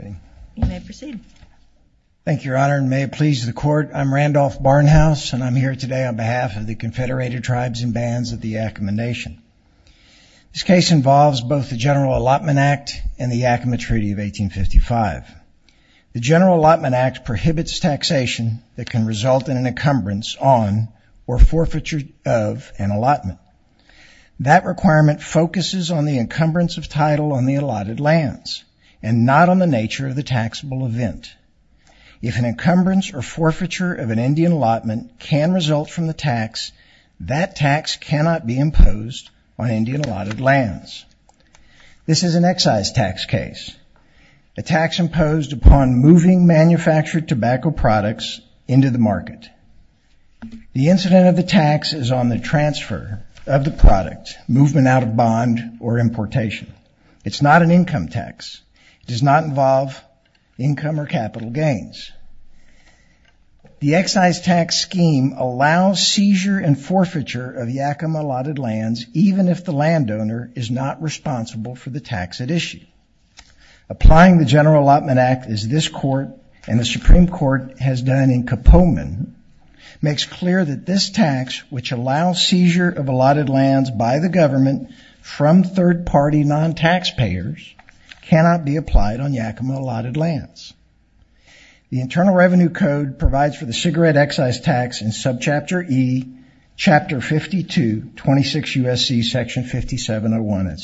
You may proceed. Thank you, Your Honor, and may it please the Court, I'm Randolph Barnhouse and I'm here today on behalf of the Confederated Tribes and Bands of the Yakama Nation. This case involves both the General Allotment Act and the Yakama Treaty of 1855. The General Allotment Act prohibits taxation that can result in an encumbrance on or forfeiture of an allotment. That requirement focuses on the encumbrance of title on the allotted lands and not on the nature of the taxable event. If an encumbrance or forfeiture of an Indian allotment can result from the tax, that tax cannot be imposed on Indian allotted lands. This is an excise tax case, a tax imposed upon moving manufactured tobacco products into the market. The incident of the tax is on the transfer of the product, movement out of bond, or importation. It's not an income tax. It does not involve income or capital gains. The excise tax scheme allows seizure and forfeiture of Yakama allotted lands, even if the landowner is not responsible for the tax at issue. Applying the General Allotment Act, as this Court and the Supreme Court has done in Kapoman, makes clear that this tax, which allows seizure of allotted lands by the government from third-party non-taxpayers, cannot be applied on Yakama allotted lands. The Internal Revenue Code provides for the cigarette excise tax in subchapter E, chapter 52, 26 U.S.C. section 5701.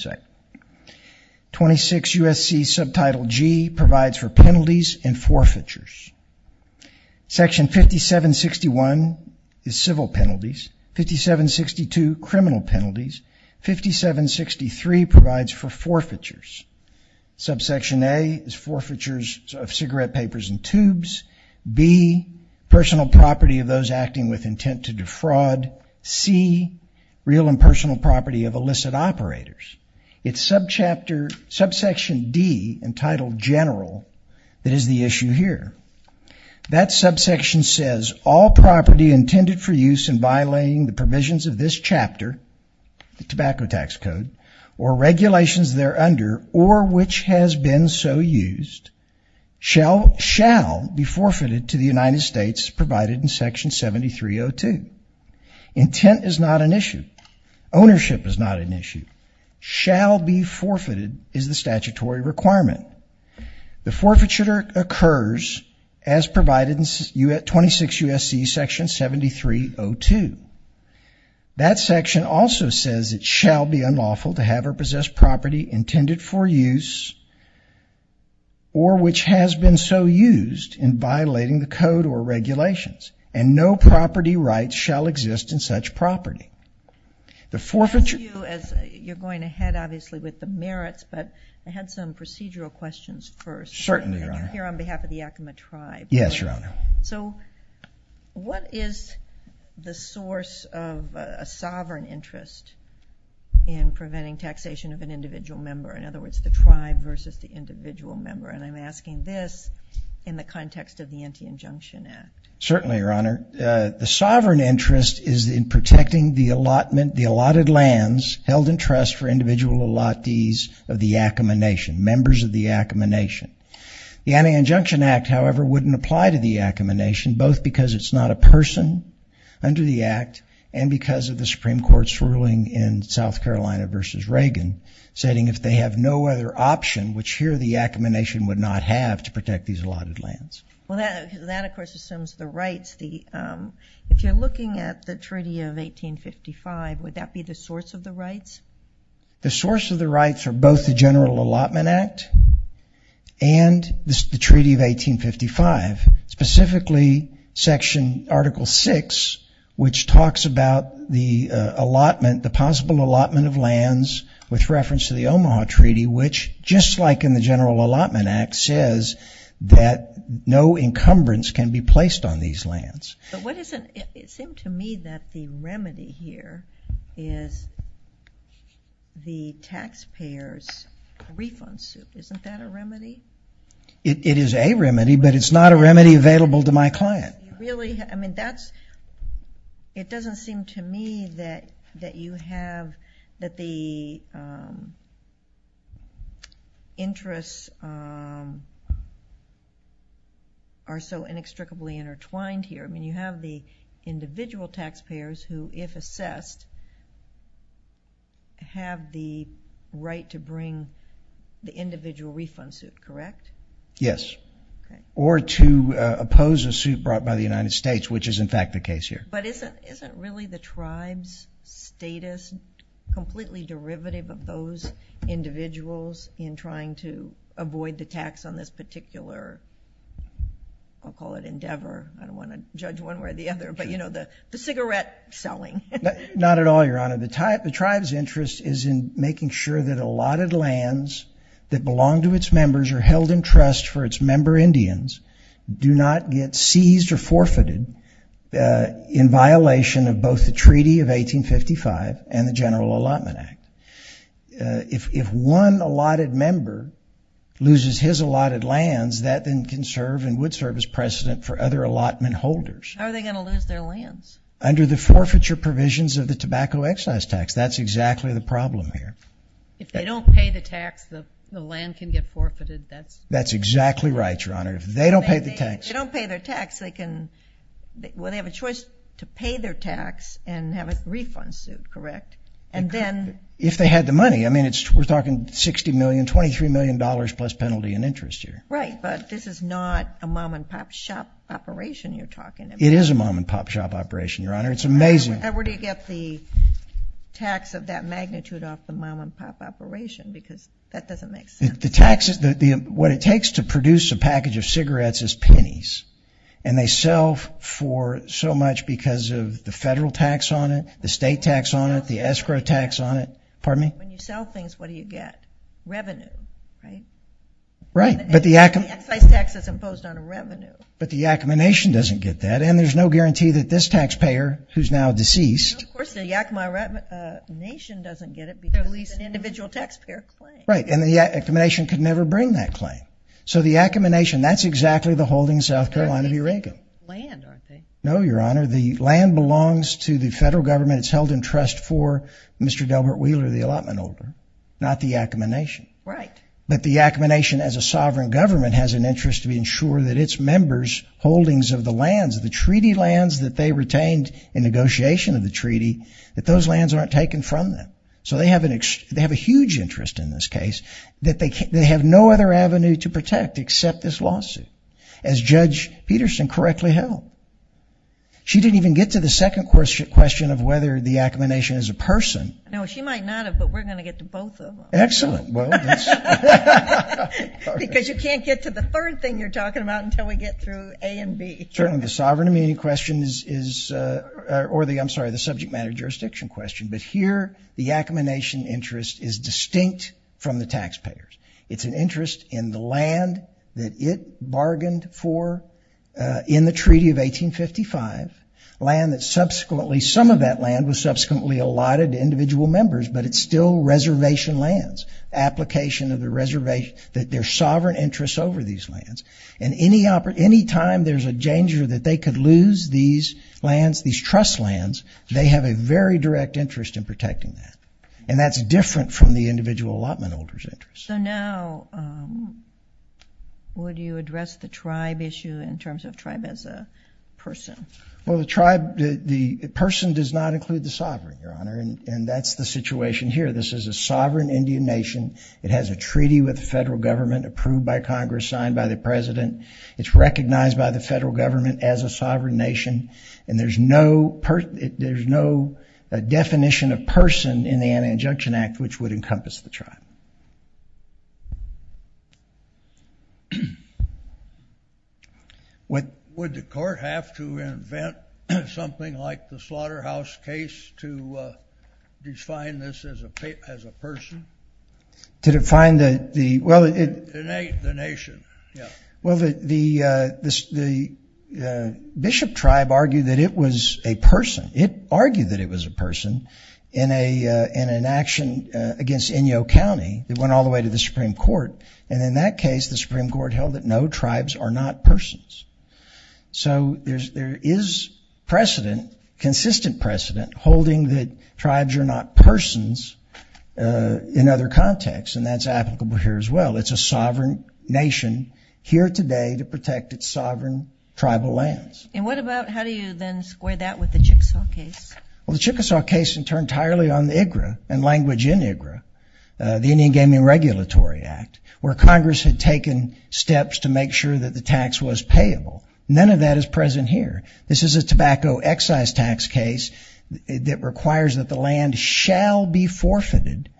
26 U.S.C. subtitle G provides for penalties and forfeitures. Section 5761 is civil penalties, 5762 criminal penalties, 5763 provides for forfeitures. Subsection A is forfeitures of cigarette papers and tubes. B, personal property of those acting with intent to defraud. C, real and personal property of illicit operators. It's subsection D, entitled General, that is the issue here. That subsection says, all property intended for use in violating the provisions of this chapter, the tobacco tax code, or regulations there under, or which has been so used, shall be forfeited to the United States, provided in section 7302. Intent is not an issue. Ownership is not an issue. Shall be forfeited is the statutory requirement. The forfeiture occurs as provided in 26 U.S.C. section 7302. That section also says it shall be unlawful to have or possess property intended for use, or which has been so used, in violating the code or regulations. And no property rights shall exist in such property. The forfeiture... You're going ahead, obviously, with the merits, but I had some procedural questions first. Certainly, Your Honor. Here on behalf of the Yakima tribe. Yes, Your Honor. So what is the source of a sovereign interest in preventing taxation of an individual member? In other words, the tribe versus the individual member. And I'm asking this in the context of the Anti-Injunction Act. Certainly, Your Honor. The sovereign interest is in protecting the allotted lands held in trust for individual allottees of the Yakima Nation, members of the Yakima Nation. The Anti-Injunction Act, however, wouldn't apply to the Yakima Nation, both because it's not a person under the Act, and because of the Supreme Court's ruling in South Carolina versus Reagan, stating if they have no other option, which here the Yakima Nation would not have, to protect these allotted lands. Well, that, of course, assumes the rights. If you're looking at the Treaty of 1855, would that be the source of the rights? The source of the rights are both the General Allotment Act and the Treaty of 1855. Specifically, Section, Article 6, which talks about the allotment, the possible allotment of lands with reference to the Omaha Treaty, which, just like in the General Allotment Act, says that no encumbrance can be placed on these lands. But what is it, it seemed to me that the remedy here is the taxpayers' refund suit. Isn't that a remedy? It is a remedy, but it's not a remedy available to my client. Really? I mean, that's, it doesn't seem to me that you have, that the interests are so inextricably intertwined here. I mean, you have the individual taxpayers who, if assessed, have the right to bring the individual refund suit, correct? Yes, or to oppose a suit brought by the United States, which is, in fact, the case here. But isn't really the tribe's status completely derivative of those individuals in trying to avoid the tax on this particular, I'll call it endeavor, I don't want to judge one way or the other, but you know, the cigarette selling. Not at all, Your Honor. The tribe's interest is in making sure that allotted lands that belong to its forfeited in violation of both the Treaty of 1855 and the General Allotment Act. If one allotted member loses his allotted lands, that then can serve and would serve as precedent for other allotment holders. How are they going to lose their lands? Under the forfeiture provisions of the tobacco excise tax. That's exactly the problem here. If they don't pay the tax, the land can get forfeited, that's... That's exactly right, Your Honor. If they don't pay their tax, they can, well, they have a choice to pay their tax and have a refund suit, correct? And then... If they had the money, I mean, it's, we're talking 60 million, 23 million dollars plus penalty and interest here. Right, but this is not a mom-and-pop shop operation you're talking about. It is a mom-and-pop shop operation, Your Honor. It's amazing. And where do you get the tax of that magnitude off the mom-and-pop operation? Because that doesn't make sense. The taxes, what it takes to produce a package of cigarettes is pennies, and they sell for so much because of the federal tax on it, the state tax on it, the escrow tax on it. Pardon me? When you sell things, what do you get? Revenue, right? Right, but the Yakima... The excise tax is imposed on a revenue. But the Yakima Nation doesn't get that, and there's no guarantee that this taxpayer, who's now deceased... Of course, the Yakima Nation doesn't get it because it's an individual taxpayer claim. Right, and the Yakima Nation could never bring that claim. So the Yakima Nation, that's exactly the holding South Carolina of Eureka. Land, aren't they? No, Your Honor. The land belongs to the federal government. It's held in trust for Mr. Delbert Wheeler, the allotment holder, not the Yakima Nation. Right. But the Yakima Nation, as a sovereign government, has an interest to ensure that its members' holdings of the lands, the treaty lands that they retained in negotiation of the treaty, that those lands aren't taken from them. So they have a huge interest in this case that they have no other avenue to protect except this lawsuit, as Judge Peterson correctly held. She didn't even get to the second question of whether the Yakima Nation is a person. No, she might not have, but we're going to get to both of them. Excellent. Because you can't get to the third thing you're or the, I'm sorry, the subject matter jurisdiction question. But here, the Yakima Nation interest is distinct from the taxpayers. It's an interest in the land that it bargained for in the Treaty of 1855. Land that subsequently, some of that land was subsequently allotted to individual members, but it's still reservation lands. Application of the reservation, that their sovereign interests over these lands. And any time there's a danger that they could lose these trust lands, they have a very direct interest in protecting that. And that's different from the individual allotment holder's interest. So now, would you address the tribe issue in terms of tribe as a person? Well, the tribe, the person does not include the sovereign, Your Honor, and that's the situation here. This is a sovereign Indian nation. It has a treaty with the federal government approved by Congress, signed by the president. It's recognized by the federal government as a sovereign nation. And there's no definition of person in the Anti-Injunction Act, which would encompass the tribe. Would the court have to invent something like the slaughterhouse case to define this as a person? To define the, well, the nation. Well, the bishop tribe argued that it was a person. It argued that it was a person in an action against Inyo County. It went all the way to the Supreme Court, and in that case the Supreme Court held that no, tribes are not persons. So there is precedent, consistent precedent, holding that tribes are not persons in other contexts, and that's applicable here as well. It's a sovereign nation here today to protect its sovereign tribal lands. And what about, how do you then square that with the Chickasaw case? Well, the Chickasaw case turned entirely on the IGRA and language in IGRA, the Indian Gaming Regulatory Act, where Congress had taken steps to make sure that the tax was payable. None of that is present here. This is a tobacco excise tax case that requires that the land shall be forfeited.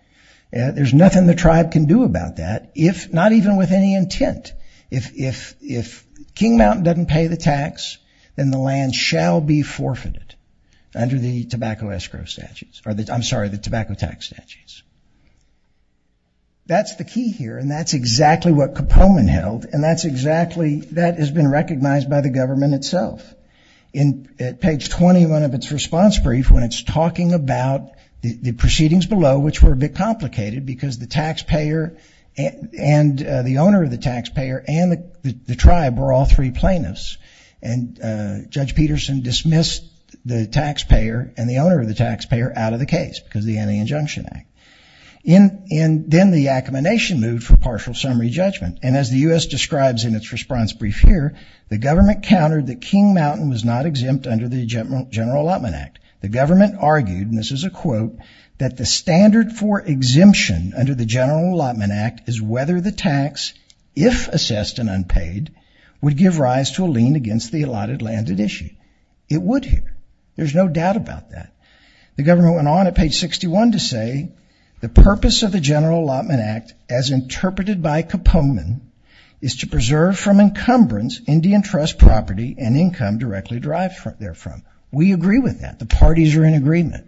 There's nothing the tribe can do about that, not even with any intent. If King Mountain doesn't pay the tax, then the land shall be forfeited under the tobacco escrow statutes, or I'm sorry, the tobacco tax statutes. That's the key here, and that's exactly what Capone held, and that's exactly, that has been recognized by the government itself. In page 21 of its response brief, when it's talking about the proceedings below, which were a bit complicated because the taxpayer and the owner of the taxpayer and the tribe were all three plaintiffs, and Judge Peterson dismissed the taxpayer and the owner of the taxpayer out of the case because of the Anti-Injunction Act. Then the accommodation moved for partial summary judgment, and as the U.S. describes in its response brief here, the government countered that King Mountain was not exempt under the General Allotment Act. The government argued, and this is a quote, that the standard for exemption under the General Allotment Act is whether the tax, if assessed and unpaid, would give rise to a lien against the allotted land at issue. It would here. There's no doubt about that. The government went on at page 61 to say, the purpose of the General Allotment Act, as interpreted by Capone, is to preserve from encumbrance Indian trust property and income directly derived therefrom. We agree with that. The parties are in agreement.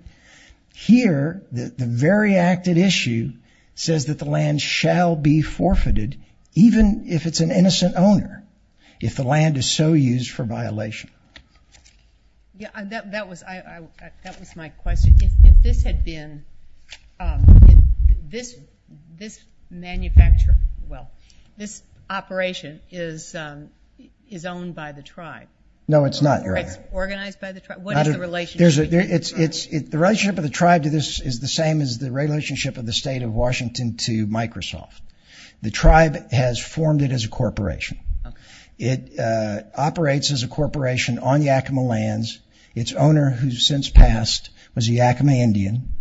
Here, the very acted issue says that the land shall be forfeited, even if it's an innocent owner, if the land is so used for violation. That was my question. If this had been, this manufacture, well, this operation is owned by the tribe? No, it's not, Your Honor. It's organized by the tribe? What is the relationship? The relationship of the tribe to this is the same as the relationship of the state of Washington to Microsoft. The tribe has formed it as a corporation. It operates as a corporation on Yakima lands. Its owner, who's since passed, was a Yakima Indian,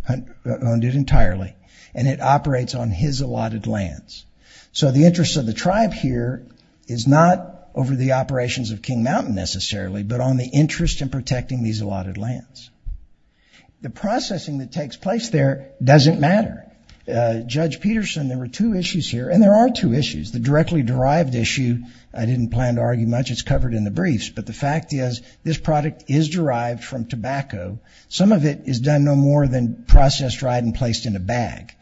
owned it entirely, and it operates on his allotted lands. So the interest of the tribe here is not over the operations of King Mountain, necessarily, but on the interest in protecting these allotted lands. The processing that takes place there doesn't matter. Judge Peterson, there were two issues here, and there are two issues. The directly derived issue, I didn't plan to argue much, it's covered in the briefs, but the fact is this product is derived from tobacco. Some of it is done no more than processed, dried, and placed in a bag.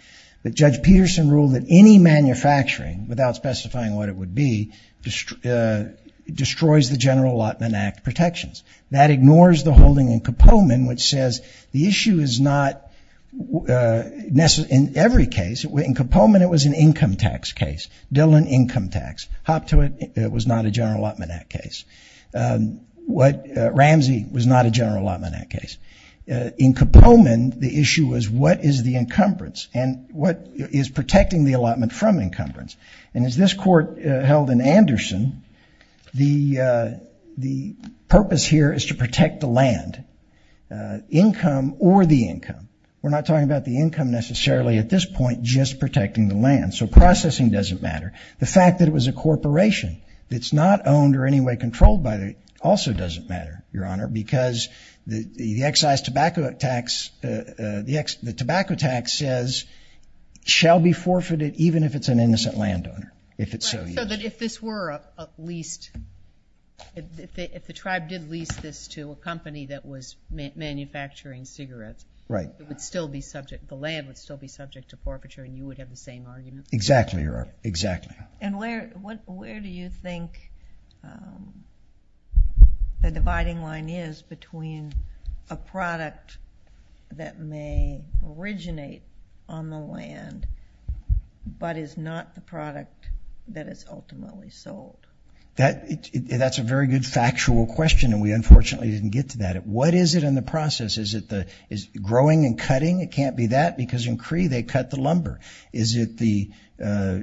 But Judge Peterson ruled that any manufacturing, without specifying what it would be, destroys the General Allotment Act protections. That ignores the holding in Kopoman, which says the issue is not necessary in every case. In Kopoman, it was an income tax case. Dillon, income tax. Hoptowit, it was not a General Allotment Act case. Ramsey was not a General Allotment Act case. In Kopoman, the issue was what is the encumbrance and what is protecting the allotment from encumbrance. And as this court held in Anderson, the purpose here is to protect the land, income or the income. We're not talking about the income, necessarily, at this point, just protecting the land. So processing doesn't matter. The fact that it was a corporation that's not owned or anyway controlled by it also doesn't matter, Your Honor, because the excise tobacco tax, the tobacco tax says, shall be forfeited even if it's an innocent landowner, if it so is. So that if this were a lease, if the tribe did lease this to a company that was manufacturing cigarettes, it would still be subject, the land would still be subject to forfeiture, and you would have the same argument? Exactly, Your Honor, exactly. And where do you think the dividing line is between a product that may originate on the land but is not the product that is ultimately sold? That's a very good factual question, and we unfortunately didn't get to that. What is it in the process? Is it growing and cutting? It can't be that because in Cree they cut the lumber. Is it the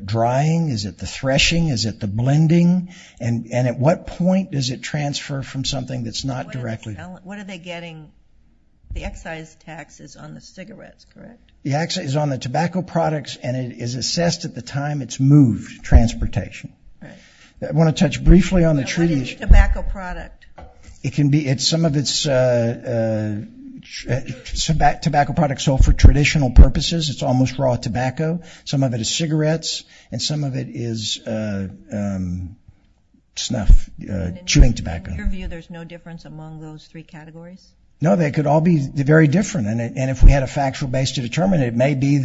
drying? Is it the threshing? Is it the blending? And at what point does it transfer from something that's not directly? What are they getting? The excise tax is on the cigarettes, correct? The excise is on the tobacco products, and it is assessed at the time it's moved, transportation. I want to touch briefly on the treaty issue. What is tobacco product? It can be some of its tobacco products sold for traditional purposes. It's almost raw tobacco. Some of it is cigarettes, and some of it is snuff, chewing tobacco. In your view, there's no difference among those three categories? No, they could all be very different. And if we had a factual base to determine it, it may be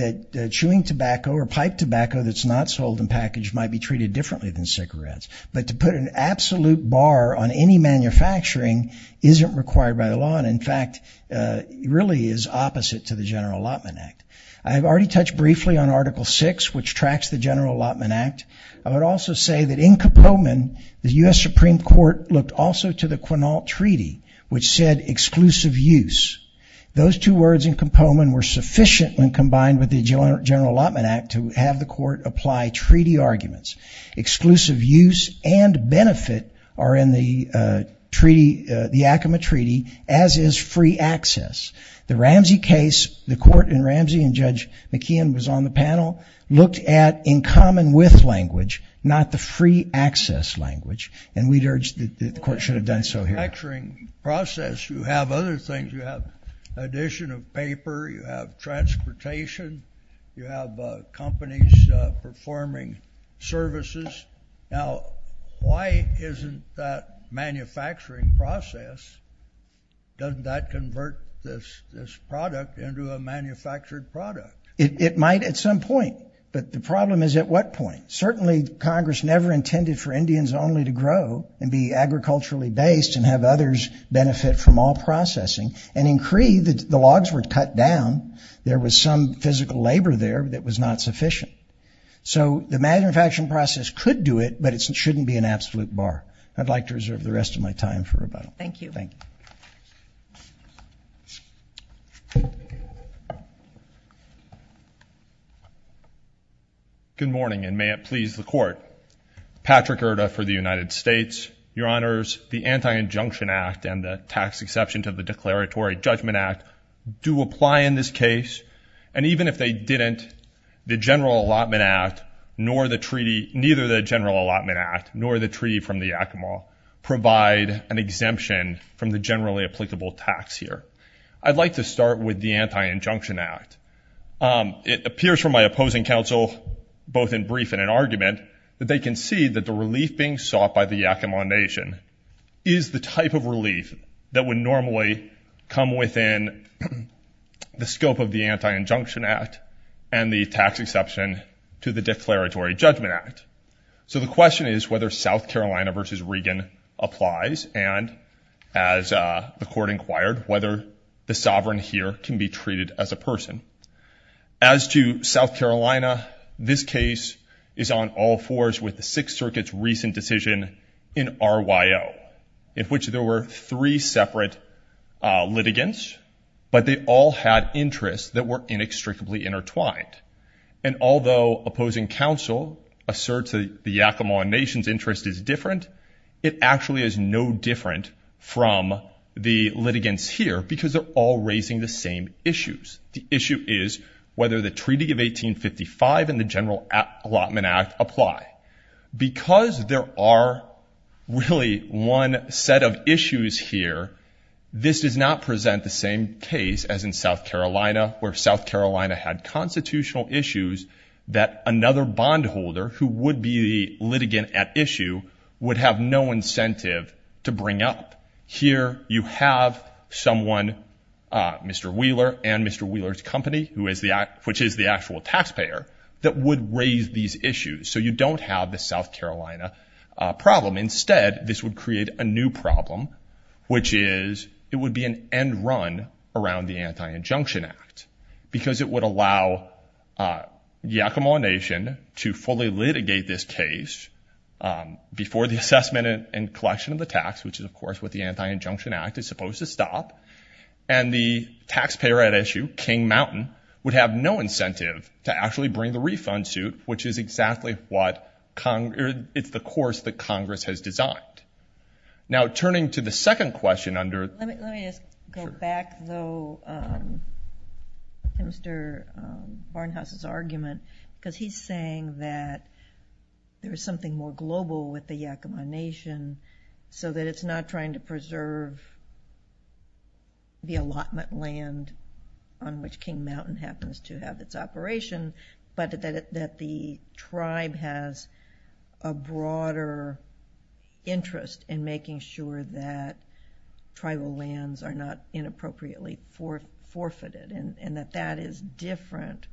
that chewing tobacco or pipe tobacco that's not sold in package might be treated differently than cigarettes. But to put an absolute bar on any manufacturing isn't required by the law, and in fact, really is opposite to the General Allotment Act. I have already touched briefly on Article VI, which tracks the General Allotment Act. I would also say that in Koppelman, the U.S. Supreme Court looked also to the Quinault Treaty, which said exclusive use. Those two words in Koppelman were sufficient when combined with the General Allotment Act to have the Court apply treaty arguments. Exclusive use and benefit are in the treaty, the Yakima Treaty, as is free access. The Ramsey case, the Court in Ramsey, and Judge McKeon was on the panel, looked at in common with language, not the free access language, and we'd urge that the Court should have done so here. In the manufacturing process, you have other things. You have addition of paper. You have transportation. You have companies performing services. Now, why isn't that manufacturing process, doesn't that convert this product into a manufactured product? It might at some point, but the problem is at what point? Certainly, Congress never intended for Indians only to grow and be agriculturally based and have others benefit from all processing. And in Cree, the logs were cut down. There was some physical labor there that was not sufficient. So the manufacturing process could do it, but it shouldn't be an absolute bar. I'd like to reserve the rest of my time for rebuttal. Thank you. Thank you. Good morning, and may it please the Court. Patrick Erta for the United States. Your Honors, the Anti-Injunction Act and the tax exception to the Declaratory Judgment Act do apply in this case. And even if they didn't, the General Allotment Act nor the treaty, neither the General Allotment Act nor the treaty from the Yakima provide an exemption from the generally applicable tax here. I'd like to start with the Anti-Injunction Act. It appears from my opposing counsel, both in brief and in argument, that they can see that the relief being sought by the Yakima Nation is the type of relief that would normally come within the scope of the Anti-Injunction Act and the tax exception to the Declaratory Judgment Act. So the question is whether South Carolina v. Regan applies, and as the Court inquired, whether the sovereign here can be treated as a person. As to South Carolina, this case is on all fours with the Sixth Circuit's recent decision in RYO, in which there were three separate litigants, but they all had interests that were inextricably intertwined. And although opposing counsel asserts that the Yakima Nation's interest is different, it actually is no different from the litigants here because they're all raising the same issues. The issue is whether the Treaty of 1855 and the General Allotment Act apply. Because there are really one set of issues here, this does not present the same case as in South Carolina, where South Carolina had constitutional issues that another bondholder, who would be the litigant at issue, would have no incentive to bring up. Here you have someone, Mr. Wheeler and Mr. Wheeler's company, which is the actual taxpayer, that would raise these issues. So you don't have the South Carolina problem. Instead, this would create a new problem, which is it would be an end run around the Anti-Injunction Act because it would allow Yakima Nation to fully litigate this case before the assessment and collection of the tax, which is, of course, what the Anti-Injunction Act is supposed to stop. And the taxpayer at issue, King Mountain, would have no incentive to actually bring the refund suit, which is exactly what Congress – it's the course that Congress has designed. Now, turning to the second question under – Let me just go back, though, to Mr. Barnhouse's argument because he's saying that there is something more global with the Yakima Nation so that it's not trying to preserve the allotment land on which King Mountain happens to have its operation, but that the tribe has a broader interest in making sure that tribal lands are not inappropriately forfeited and that that is different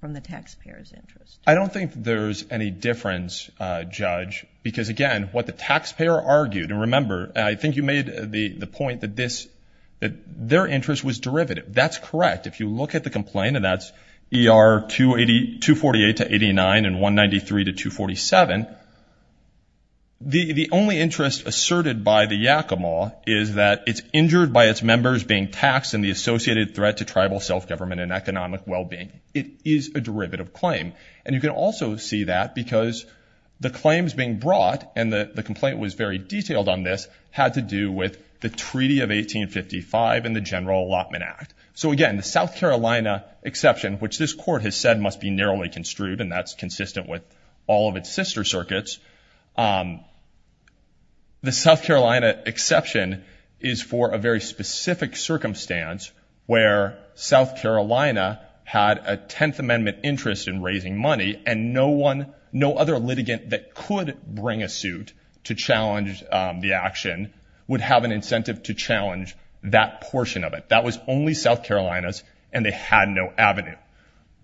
from the taxpayer's interest. I don't think there's any difference, Judge, because, again, what the taxpayer argued – and remember, I think you made the point that their interest was derivative. That's correct. If you look at the complaint, and that's ER 248 to 89 and 193 to 247, the only interest asserted by the Yakima is that it's injured by its members being taxed and the associated threat to tribal self-government and economic well-being. It is a derivative claim. And you can also see that because the claims being brought, and the complaint was very detailed on this, had to do with the Treaty of 1855 and the General Allotment Act. So, again, the South Carolina exception, which this Court has said must be narrowly construed, and that's consistent with all of its sister circuits, the South Carolina exception is for a very specific circumstance where South Carolina had a Tenth Amendment interest in raising money and no other litigant that could bring a suit to challenge the action would have an incentive to challenge that portion of it. That was only South Carolina's, and they had no avenue.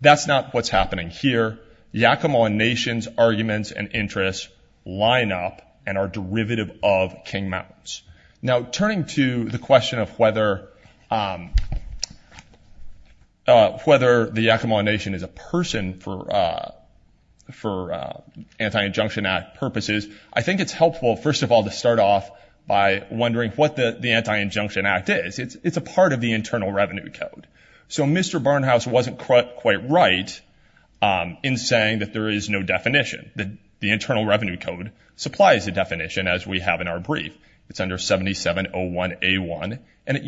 That's not what's happening here. Yakima Nation's arguments and interests line up and are derivative of King Mountain's. Now, turning to the question of whether the Yakima Nation is a person for Anti-Injunction Act purposes, I think it's helpful, first of all, to start off by wondering what the Anti-Injunction Act is. It's a part of the Internal Revenue Code. So Mr. Barnhouse wasn't quite right in saying that there is no definition. The Internal Revenue Code supplies a definition, as we have in our brief. It's under 7701A1, and it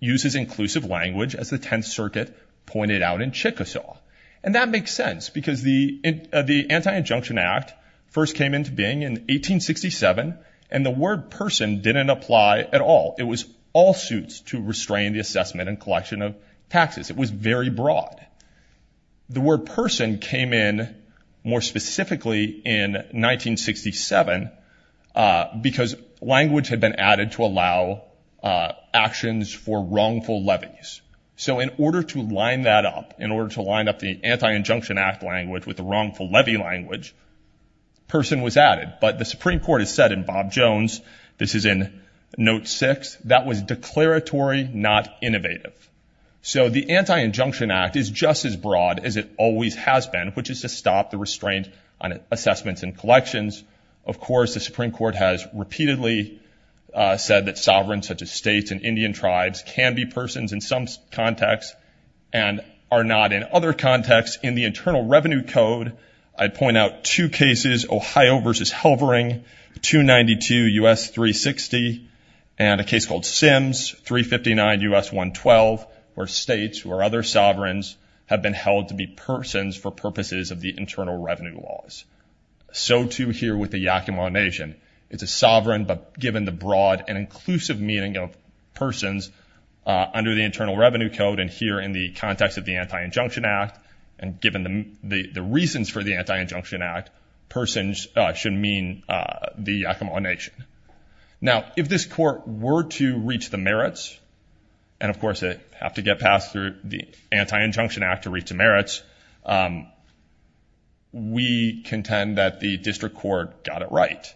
uses inclusive language, as the Tenth Circuit pointed out in Chickasaw. And that makes sense because the Anti-Injunction Act first came into being in 1867, and the word person didn't apply at all. It was all suits to restrain the assessment and collection of taxes. It was very broad. The word person came in more specifically in 1967 because language had been added to allow actions for wrongful levies. So in order to line that up, in order to line up the Anti-Injunction Act language with the wrongful levy language, person was added. But the Supreme Court has said in Bob Jones, this is in Note 6, that was declaratory, not innovative. So the Anti-Injunction Act is just as broad as it always has been, which is to stop the restraint on assessments and collections. Of course, the Supreme Court has repeatedly said that sovereigns, such as states and Indian tribes, can be persons in some contexts and are not in other contexts. In the Internal Revenue Code, I point out two cases, Ohio v. Halvering, 292 U.S. 360, and a case called Sims, 359 U.S. 112, where states or other sovereigns have been held to be persons for purposes of the Internal Revenue Laws. So too here with the Yakima Nation. It's a sovereign but given the broad and inclusive meaning of persons under the Internal Revenue Code and here in the context of the Anti-Injunction Act and given the reasons for the Anti-Injunction Act, persons should mean the Yakima Nation. Now, if this court were to reach the merits, and of course it would have to get passed through the Anti-Injunction Act to reach the merits, we contend that the district court got it right.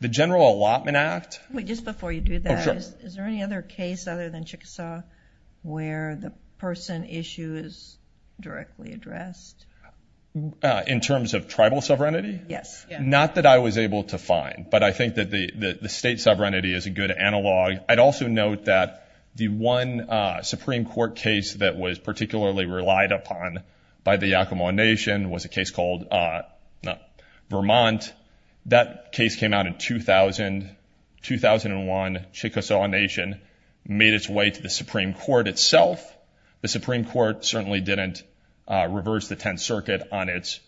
The General Allotment Act... Wait, just before you do that, is there any other case other than Chickasaw where the person issue is directly addressed? In terms of tribal sovereignty? Yes. Not that I was able to find, but I think that the state sovereignty is a good analog. I'd also note that the one Supreme Court case that was particularly relied upon by the Yakima Nation was a case called Vermont. That case came out in 2001. Chickasaw Nation made its way to the Supreme Court itself. The Supreme Court certainly didn't reverse the Tenth Circuit on its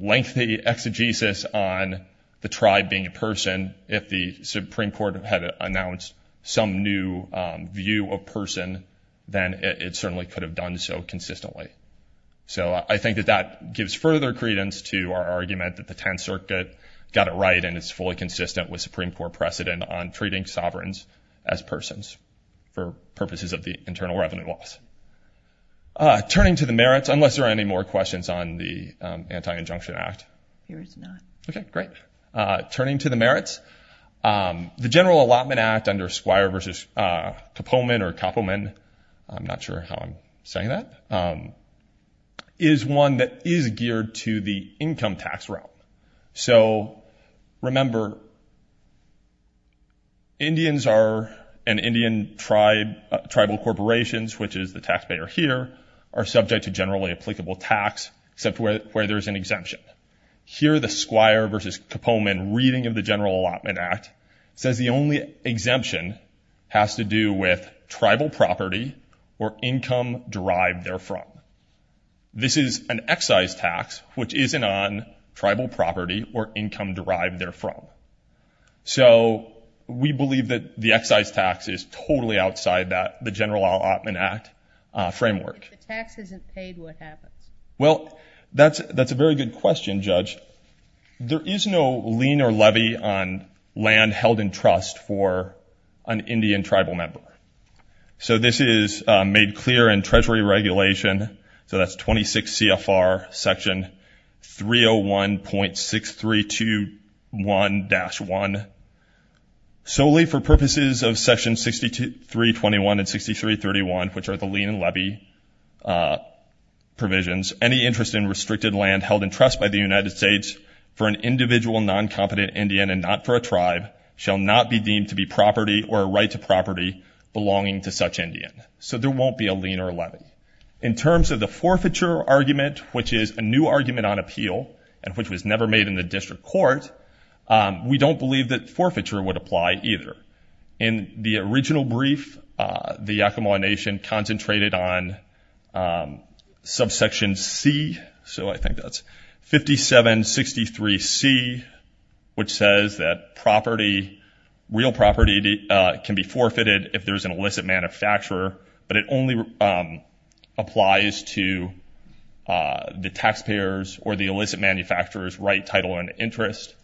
lengthy exegesis on the tribe being a person. If the Supreme Court had announced some new view of person, then it certainly could have done so consistently. So I think that that gives further credence to our argument that the Tenth Circuit got it right and it's fully consistent with Supreme Court precedent on treating sovereigns as persons for purposes of the internal revenue laws. Turning to the merits, unless there are any more questions on the Anti-Injunction Act. There is not. Okay, great. Turning to the merits, the General Allotment Act under Squire v. Koppelman, I'm not sure how I'm saying that, is one that is geared to the income tax route. So remember, Indians and Indian tribal corporations, which is the taxpayer here, are subject to generally applicable tax except where there's an exemption. Here the Squire v. Koppelman reading of the General Allotment Act says the only exemption has to do with tribal property or income derived therefrom. This is an excise tax, which isn't on tribal property or income derived therefrom. So we believe that the excise tax is totally outside that, the General Allotment Act framework. If the tax isn't paid, what happens? Well, that's a very good question, Judge. There is no lien or levy on land held in trust for an Indian tribal member. So this is made clear in Treasury Regulation. So that's 26 CFR Section 301.6321-1. Solely for purposes of Section 6321 and 6331, which are the lien and levy provisions, any interest in restricted land held in trust by the United States for an individual non-competent Indian and not for a tribe shall not be deemed to be property or a right to property belonging to such Indian. So there won't be a lien or a levy. In terms of the forfeiture argument, which is a new argument on appeal and which was never made in the district court, we don't believe that forfeiture would apply either. In the original brief, the Yakama Nation concentrated on subsection C, so I think that's 5763C, which says that property, real property, can be forfeited if there's an illicit manufacturer, but it only applies to the taxpayers or the illicit manufacturer's right, title, and interest.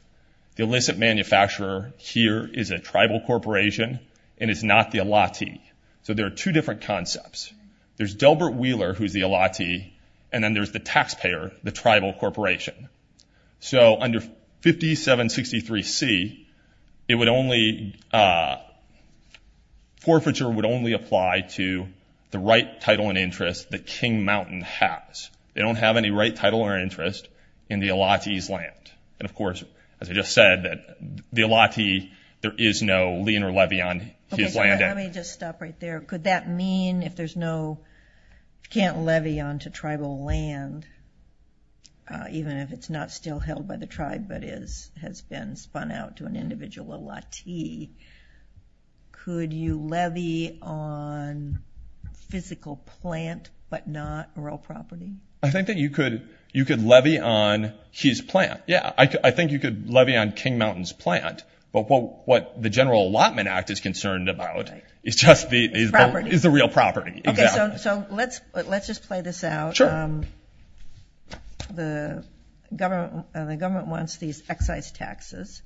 The illicit manufacturer here is a tribal corporation and is not the allottee. So there are two different concepts. There's Delbert Wheeler, who's the allottee, and then there's the taxpayer, the tribal corporation. So under 5763C, forfeiture would only apply to the right, title, and interest that King Mountain has. They don't have any right, title, or interest in the allottee's land. And of course, as I just said, the allottee, there is no lien or levy on his land. Let me just stop right there. Could that mean if there's no can't levy onto tribal land, even if it's not still held by the tribe but has been spun out to an individual allottee, could you levy on physical plant but not real property? I think that you could levy on his plant, yeah. I think you could levy on King Mountain's plant, but what the General Allotment Act is concerned about is just the real property. Okay, so let's just play this out. The government wants these excise taxes.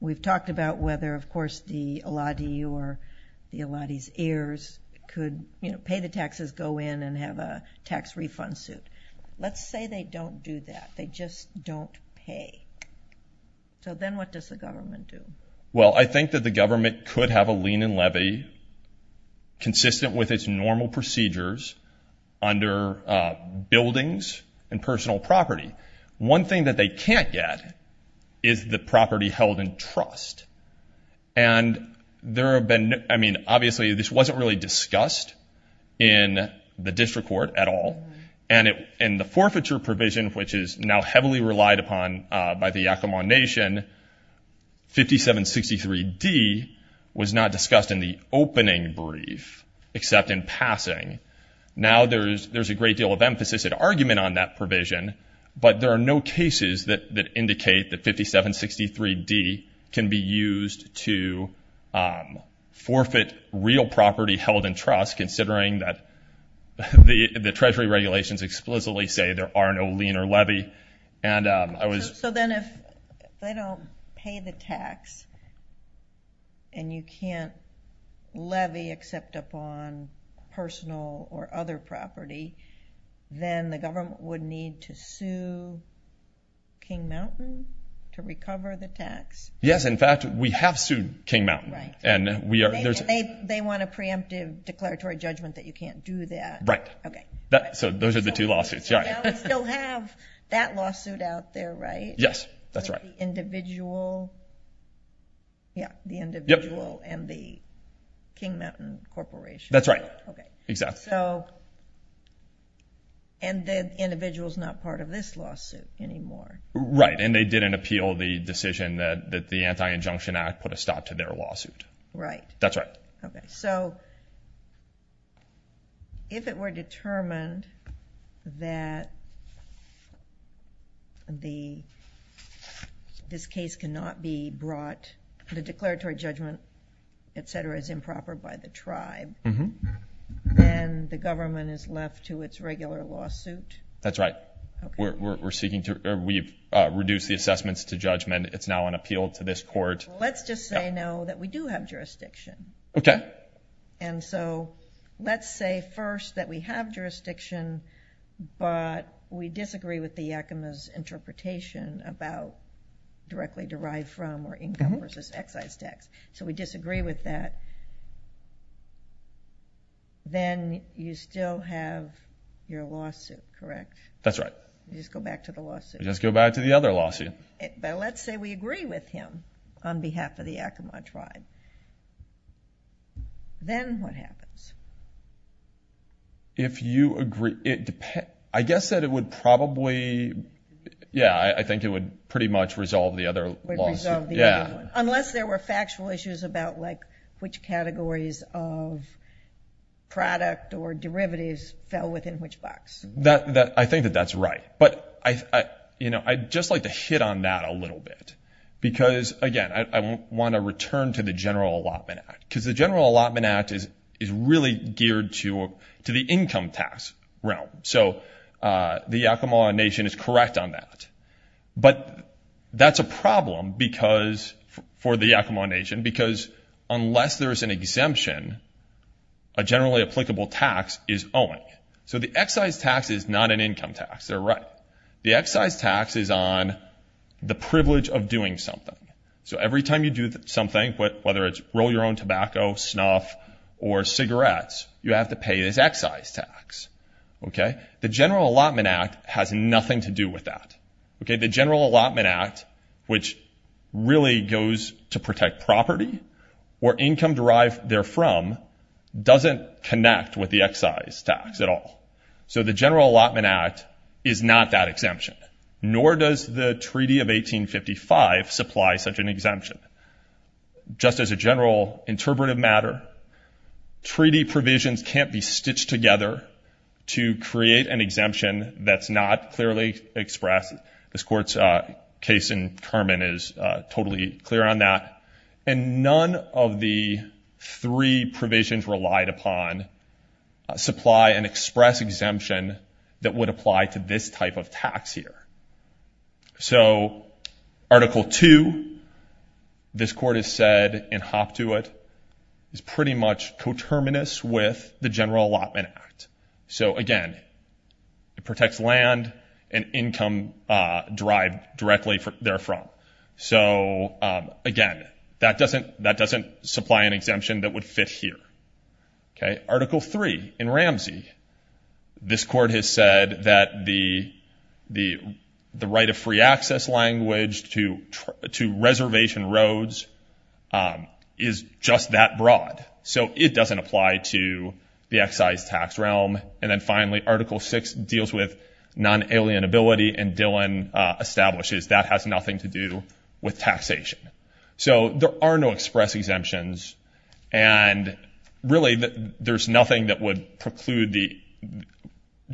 We've talked about whether, of course, the allottee or the allottee's heirs could pay the taxes, go in, and have a tax refund suit. Let's say they don't do that. They just don't pay. So then what does the government do? Well, I think that the government could have a lien and levy consistent with its normal procedures under buildings and personal property. One thing that they can't get is the property held in trust. Obviously, this wasn't really discussed in the district court at all, and the forfeiture provision, which is now heavily relied upon by the Yakima Nation, 5763D, was not discussed in the opening brief except in passing. Now there's a great deal of emphasis and argument on that provision, but there are no cases that indicate that 5763D can be used to forfeit real property held in trust considering that the Treasury regulations explicitly say there are no lien or levy. So then if they don't pay the tax and you can't levy except upon personal or other property, then the government would need to sue King Mountain to recover the tax? Yes, in fact, we have sued King Mountain. They want a preemptive declaratory judgment that you can't do that. Right. So those are the two lawsuits. Now we still have that lawsuit out there, right? Yes, that's right. The individual and the King Mountain Corporation? That's right. Okay. And the individual is not part of this lawsuit anymore? Right, and they didn't appeal the decision that the Anti-Injunction Act put a stop to their lawsuit. Right. That's right. Okay, so if it were determined that this case cannot be brought, the declaratory judgment, et cetera, is improper by the tribe, then the government is left to its regular lawsuit? That's right. We've reduced the assessments to judgment. It's now an appeal to this court. Let's just say now that we do have jurisdiction. Okay. And so let's say first that we have jurisdiction, but we disagree with the Yakima's interpretation about directly derived from or income versus excise tax. So we disagree with that. Then you still have your lawsuit, correct? That's right. You just go back to the lawsuit? We just go back to the other lawsuit. But let's say we agree with him on behalf of the Yakima tribe. Then what happens? If you agree, I guess that it would probably, yeah, I think it would pretty much resolve the other lawsuit. Yeah. Unless there were factual issues about, like, which categories of product or derivatives fell within which box. I think that that's right. But I'd just like to hit on that a little bit, because, again, I want to return to the General Allotment Act, because the General Allotment Act is really geared to the income tax realm. So the Yakima Nation is correct on that. But that's a problem for the Yakima Nation, because unless there's an exemption, a generally applicable tax is owing. So the excise tax is not an income tax. They're right. The excise tax is on the privilege of doing something. So every time you do something, whether it's roll your own tobacco, snuff, or cigarettes, you have to pay this excise tax. The General Allotment Act has nothing to do with that. The General Allotment Act, which really goes to protect property or income derived therefrom, doesn't connect with the excise tax at all. So the General Allotment Act is not that exemption, nor does the Treaty of 1855 supply such an exemption. Just as a general interpretive matter, treaty provisions can't be stitched together to create an exemption that's not clearly expressed. This Court's case in Kerman is totally clear on that. And none of the three provisions relied upon supply an express exemption that would apply to this type of tax here. So Article 2, this Court has said in hop to it, is pretty much coterminous with the General Allotment Act. So, again, it protects land and income derived directly therefrom. So, again, that doesn't supply an exemption that would fit here. Article 3 in Ramsey, this Court has said that the right of free access language to reservation roads is just that broad. So it doesn't apply to the excise tax realm. And then, finally, Article 6 deals with non-alienability, and Dillon establishes that has nothing to do with taxation. So there are no express exemptions, and really there's nothing that would preclude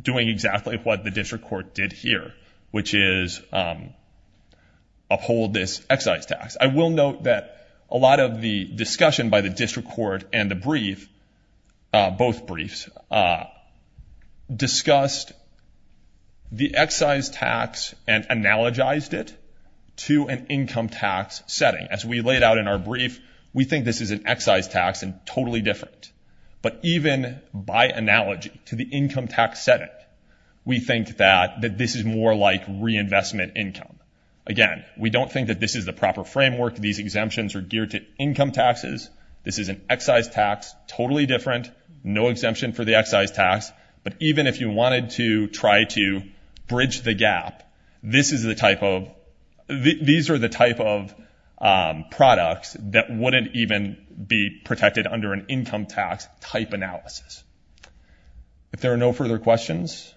doing exactly what the district court did here, which is uphold this excise tax. I will note that a lot of the discussion by the district court and the brief, both briefs, discussed the excise tax and analogized it to an income tax setting. As we laid out in our brief, we think this is an excise tax and totally different. But even by analogy to the income tax setting, we think that this is more like reinvestment income. Again, we don't think that this is the proper framework. These exemptions are geared to income taxes. This is an excise tax, totally different. No exemption for the excise tax. But even if you wanted to try to bridge the gap, these are the type of products that wouldn't even be protected under an income tax type analysis. If there are no further questions,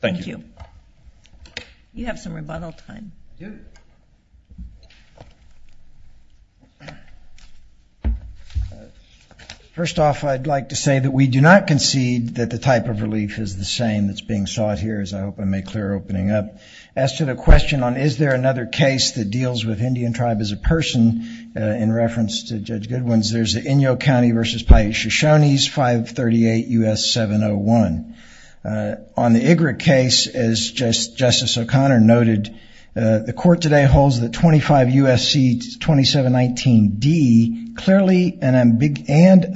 thank you. Thank you. You have some rebuttal time. Judith. First off, I'd like to say that we do not concede that the type of relief is the same that's being sought here, as I hope I made clear opening up. As to the question on is there another case that deals with Indian tribe as a person, in reference to Judge Goodwin's, there's the Inyo County versus Paiute Shoshone's 538 U.S. 701. On the Igritt case, as Justice O'Connor noted, the court today holds that 25 U.S.C. 2719D clearly and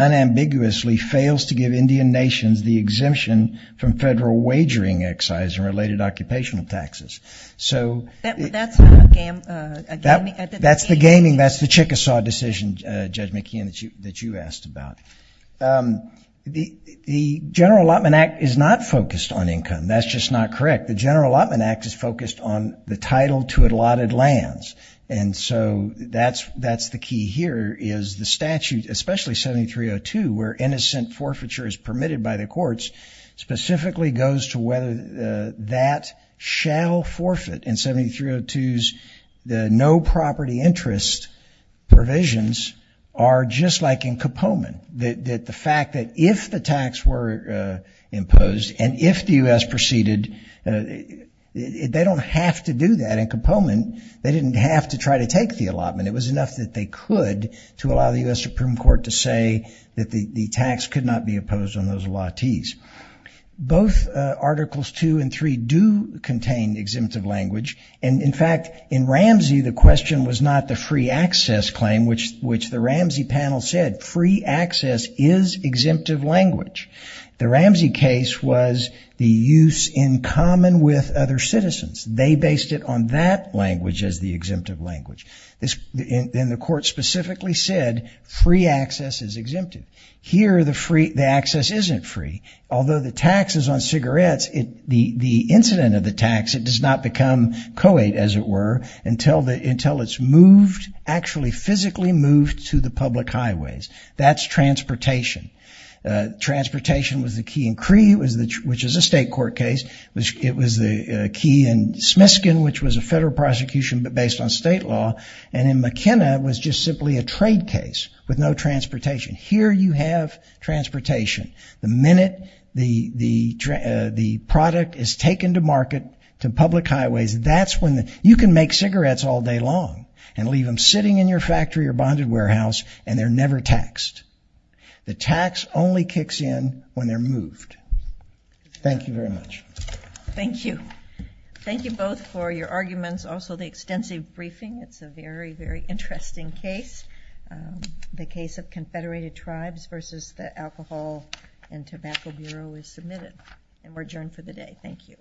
unambiguously fails to give Indian nations the exemption from federal wagering excise and related occupational taxes. That's the gaming, that's the Chickasaw decision, Judge McKeon, that you asked about. The General Allotment Act is not focused on income. That's just not correct. The General Allotment Act is focused on the title to allotted lands, and so that's the key here is the statute, especially 7302, where innocent forfeiture is permitted by the courts, specifically goes to whether that shall forfeit. In 7302's, the no property interest provisions are just like in Kapoman, that the fact that if the tax were imposed and if the U.S. proceeded, they don't have to do that in Kapoman. They didn't have to try to take the allotment. It was enough that they could to allow the U.S. Supreme Court to say that the tax could not be opposed on those allottees. Both Articles 2 and 3 do contain exemptive language. In fact, in Ramsey, the question was not the free access claim, which the Ramsey panel said free access is exemptive language. The Ramsey case was the use in common with other citizens. They based it on that language as the exemptive language. The court specifically said free access is exemptive. Here, the access isn't free. Although the tax is on cigarettes, the incident of the tax, it does not become co-ed, as it were, until it's moved, actually physically moved to the public highways. That's transportation. Transportation was the key in Cree, which is a state court case. It was the key in Smiskin, which was a federal prosecution, but based on state law. And in McKenna, it was just simply a trade case with no transportation. Here you have transportation. The minute the product is taken to market to public highways, that's when you can make cigarettes all day long and leave them sitting in your factory or bonded warehouse, and they're never taxed. The tax only kicks in when they're moved. Thank you very much. Thank you. Thank you both for your arguments. Also, the extensive briefing, it's a very, very interesting case. The case of Confederated Tribes versus the Alcohol and Tobacco Bureau is submitted, and we're adjourned for the day. Thank you.